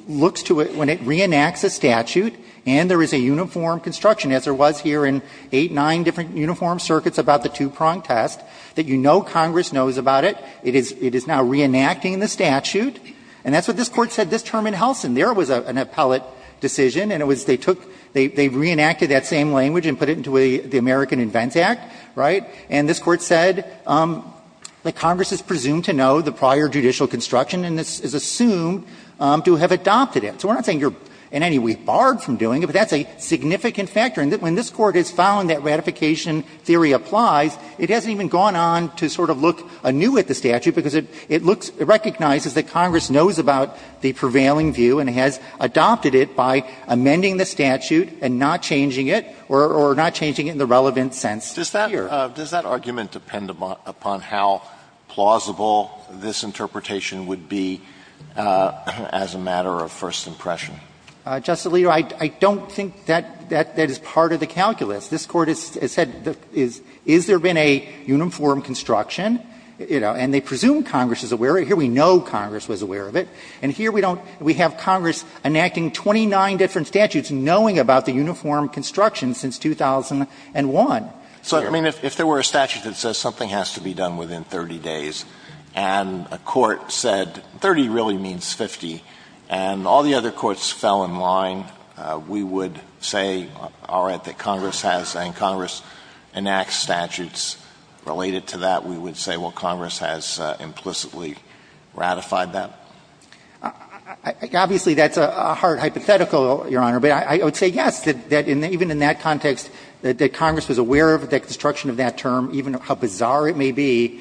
looks to it, when it reenacts a statute, and there is a uniform construction, as there was here in eight, nine different uniform circuits about the two-prong test, that you know Congress knows about it, it is now reenacting the statute. And that's what this Court said this term in Helsin. There was an appellate decision, and it was they took, they reenacted that same language and put it into the American Invents Act, right? And this Court said that Congress is presumed to know the prior judicial construction and is assumed to have adopted it. So we're not saying you're in any way barred from doing it, but that's a significant factor. And when this Court has found that ratification theory applies, it hasn't even gone on to sort of look anew at the statute, because it looks, it recognizes that Congress knows about the prevailing view and has adopted it by amending the statute and not changing it, or not changing it in the relevant sense here. Does that argument depend upon how plausible this interpretation would be as a matter of first impression? Justice Alito, I don't think that that is part of the calculus. This Court has said, is there been a uniform construction? You know, and they presume Congress is aware of it. Here we know Congress was aware of it. And here we don't, we have Congress enacting 29 different statutes knowing about the uniform construction since 2001. So I mean, if there were a statute that says something has to be done within 30 days and a court said, 30 really means 50, and all the other courts fell in line, we would say, all right, that Congress has, and Congress enacts statutes related to that, we would say, well, Congress has implicitly ratified that? Obviously, that's a hard hypothetical, Your Honor. But I would say yes, that even in that context, that Congress was aware of the construction of that term. Even how bizarre it may be,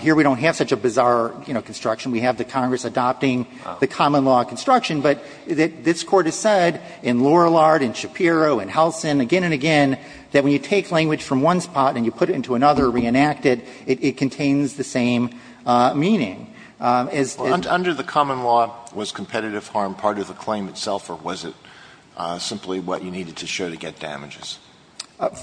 here we don't have such a bizarre, you know, construction. We have the Congress adopting the common law construction. But this Court has said, in Lorillard, in Shapiro, in Helsin, again and again, that when you take language from one spot and you put it into another, reenact it, it contains the same meaning. As the ---- Alito Under the common law, was competitive harm part of the claim itself, or was it simply what you needed to show to get damages?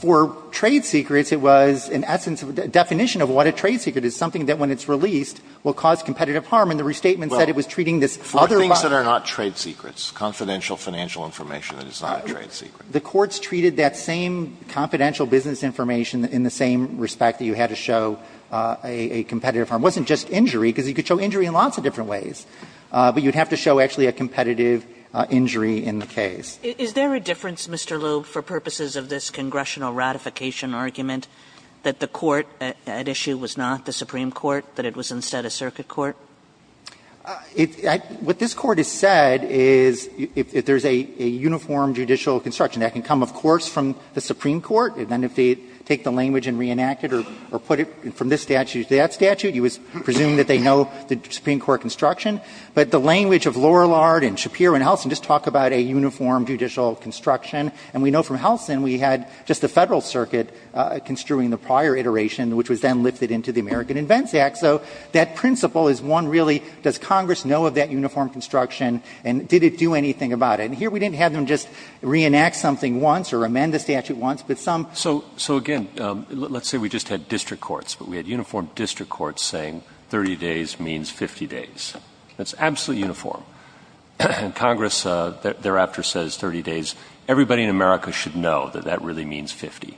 For trade secrets, it was, in essence, a definition of what a trade secret is, something that when it's released will cause competitive harm. And the restatement said it was treating this other ---- Other things that are not trade secrets, confidential financial information that is not a trade secret. The courts treated that same confidential business information in the same respect that you had to show a competitive harm. It wasn't just injury, because you could show injury in lots of different ways. But you would have to show actually a competitive injury in the case. Is there a difference, Mr. Loeb, for purposes of this congressional ratification argument that the court at issue was not the Supreme Court, that it was instead a circuit court? What this Court has said is if there's a uniform judicial construction, that can come, of course, from the Supreme Court, and then if they take the language and reenact it or put it from this statute to that statute, you would presume that they know the Supreme Court construction. But the language of Lorillard and Shapiro and Helsin just talk about a uniform judicial construction. And we know from Helsin we had just the Federal Circuit construing the prior iteration, which was then lifted into the American Invents Act. So that principle is one really, does Congress know of that uniform construction and did it do anything about it? And here we didn't have them just reenact something once or amend the statute once, but some ---- So again, let's say we just had district courts, but we had uniform district courts saying 30 days means 50 days. That's absolutely uniform. Congress thereafter says 30 days. Everybody in America should know that that really means 50.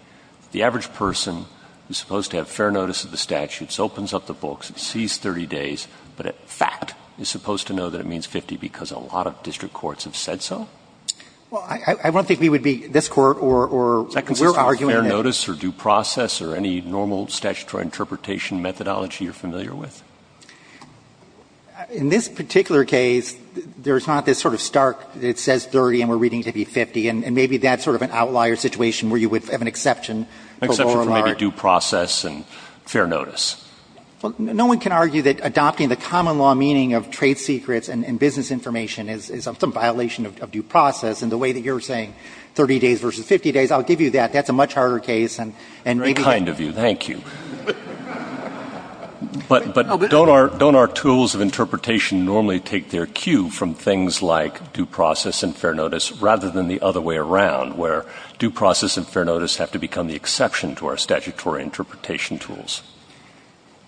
The average person is supposed to have fair notice of the statutes, opens up the books, sees 30 days, but in fact is supposed to know that it means 50 because a lot of district courts have said so? Well, I don't think we would be, this Court or we're arguing that ---- Does that consist of fair notice or due process or any normal statutory interpretation methodology you're familiar with? In this particular case, there's not this sort of stark, it says 30 and we're reading it to be 50, and maybe that's sort of an outlier situation where you would have an exception. An exception for maybe due process and fair notice. Well, no one can argue that adopting the common law meaning of trade secrets and business information is some violation of due process, and the way that you're saying 30 days versus 50 days, I'll give you that. That's a much harder case and maybe ---- Very kind of you. Thank you. But don't our tools of interpretation normally take their cue from things like due process and fair notice rather than the other way around where due process and fair notice have to become the exception to our statutory interpretation tools?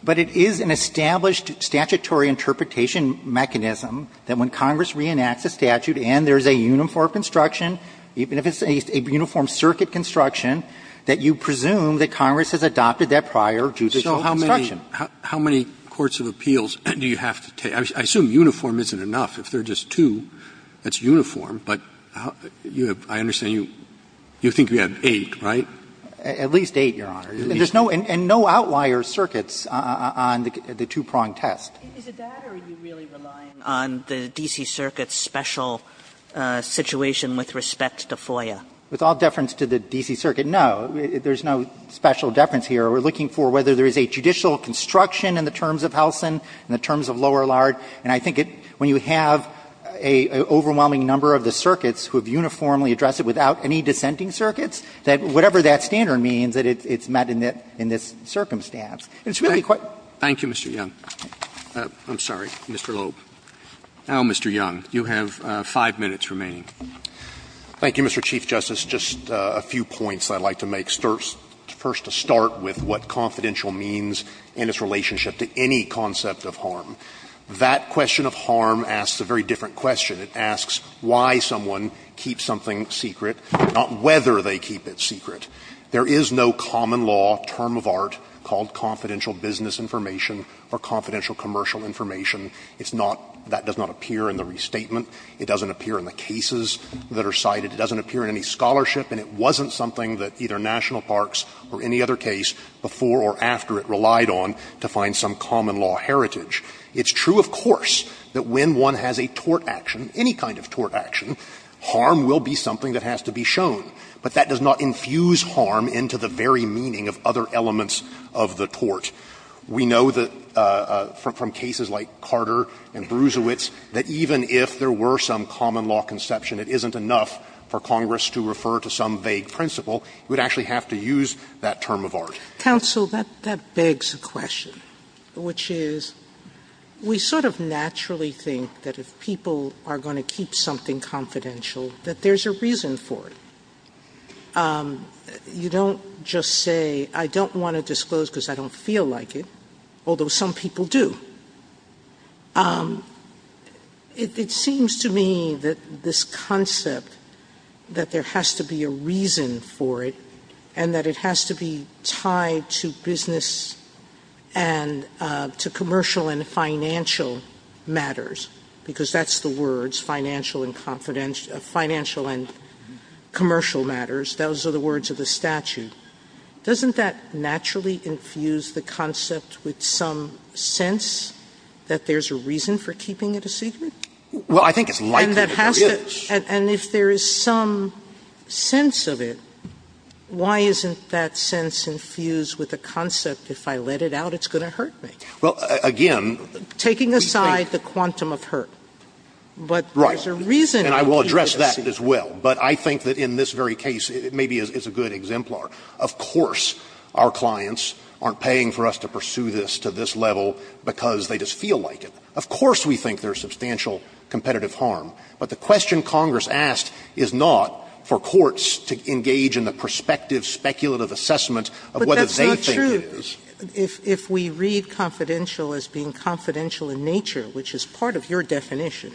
But it is an established statutory interpretation mechanism that when Congress reenacts a statute and there's a uniform construction, even if it's a uniform circuit construction, that you presume that Congress has adopted that process prior to the construction. So how many courts of appeals do you have to take? I assume uniform isn't enough. If there are just two, that's uniform. But I understand you think you have eight, right? At least eight, Your Honor. And there's no outlier circuits on the two-prong test. Is it that or are you really relying on the D.C. Circuit's special situation with respect to FOIA? With all deference to the D.C. Circuit, no. There's no special deference here. We're looking for whether there is a judicial construction in the terms of Helsin and the terms of Lower Lard. And I think when you have an overwhelming number of the circuits who have uniformly addressed it without any dissenting circuits, that whatever that standard means, that it's met in this circumstance. And it's really quite. Thank you, Mr. Young. I'm sorry, Mr. Loeb. Now, Mr. Young, you have five minutes remaining. Thank you, Mr. Chief Justice. Just a few points I'd like to make. First to start with what confidential means in its relationship to any concept of harm. That question of harm asks a very different question. It asks why someone keeps something secret, not whether they keep it secret. There is no common law term of art called confidential business information or confidential commercial information. It's not that does not appear in the restatement. It doesn't appear in the cases that are cited. It doesn't appear in any scholarship. And it wasn't something that either National Parks or any other case before or after it relied on to find some common law heritage. It's true, of course, that when one has a tort action, any kind of tort action, harm will be something that has to be shown. But that does not infuse harm into the very meaning of other elements of the tort. We know that from cases like Carter and Bruisewitz that even if there were some common law conception, it isn't enough for Congress to refer to some vague principle. You would actually have to use that term of art. Sotomayor, that begs a question, which is we sort of naturally think that if people are going to keep something confidential, that there's a reason for it. You don't just say, I don't want to disclose because I don't feel like it, although some people do. It seems to me that this concept, that there has to be a reason for it and that it has to be tied to business and to commercial and financial matters, because that's the words, financial and commercial matters. Those are the words of the statute. Doesn't that naturally infuse the concept with some sense? That there's a reason for keeping it a secret? Well, I think it's likely that there is. And if there is some sense of it, why isn't that sense infused with the concept if I let it out, it's going to hurt me? Well, again, we think the quantum of hurt. Right. But there's a reason to keep it a secret. And I will address that as well. But I think that in this very case, it maybe is a good exemplar. Of course our clients aren't paying for us to pursue this to this level because they just feel like it. Of course we think there's substantial competitive harm. But the question Congress asked is not for courts to engage in the prospective speculative assessment of what they think it is. But that's not true. If we read confidential as being confidential in nature, which is part of your definition.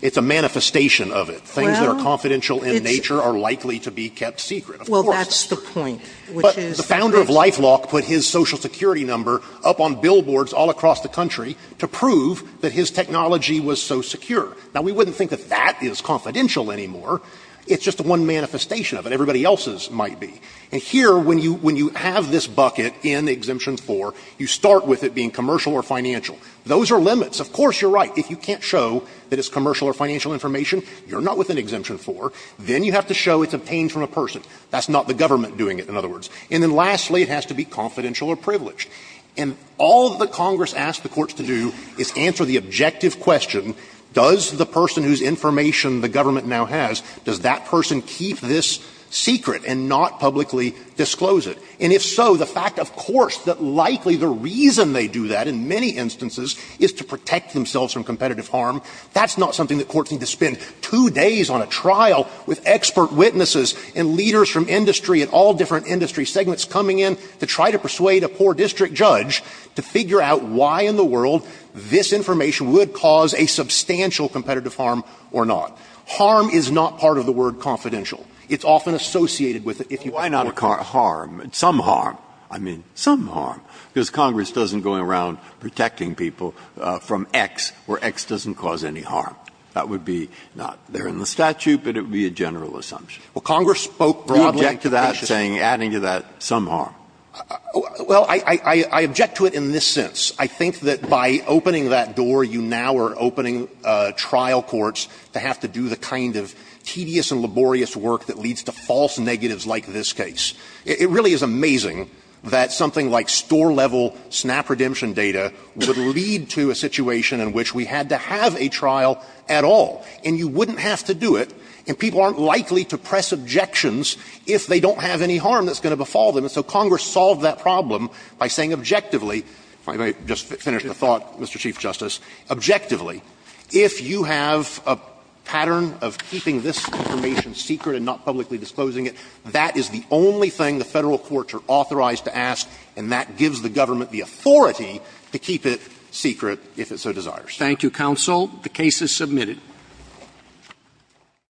It's a manifestation of it. Things that are confidential in nature are likely to be kept secret. Well, that's the point. The founder of LifeLock put his social security number up on billboards all across the country to prove that his technology was so secure. Now, we wouldn't think that that is confidential anymore. It's just one manifestation of it. Everybody else's might be. And here, when you have this bucket in Exemption 4, you start with it being commercial or financial. Those are limits. Of course you're right. If you can't show that it's commercial or financial information, you're not within Exemption 4. Then you have to show it's obtained from a person. That's not the government doing it, in other words. And then lastly, it has to be confidential or privileged. And all that Congress asks the courts to do is answer the objective question, does the person whose information the government now has, does that person keep this secret and not publicly disclose it? And if so, the fact, of course, that likely the reason they do that in many instances is to protect themselves from competitive harm, that's not something that courts need to spend two days on a trial with expert witnesses and leaders from industry and all different industry segments coming in to try to persuade a poor district judge to figure out why in the world this information would cause a substantial competitive harm or not. Harm is not part of the word confidential. It's often associated with it. Why not harm? Some harm. I mean, some harm. Because Congress doesn't go around protecting people from X where X doesn't cause any harm. That would be not there in the statute, but it would be a general assumption. We object to that saying adding to that some harm. Well, I object to it in this sense. I think that by opening that door, you now are opening trial courts to have to do the kind of tedious and laborious work that leads to false negatives like this case. It really is amazing that something like store-level SNAP redemption data would lead to a situation in which we had to have a trial at all. And you wouldn't have to do it, and people aren't likely to press objections if they don't have any harm that's going to befall them. And so Congress solved that problem by saying objectively, if I may just finish the thought, Mr. Chief Justice, objectively, if you have a pattern of keeping this information secret and not publicly disclosing it, that is the only thing the Court would keep secret if it so desires. Thank you, counsel. The case is submitted.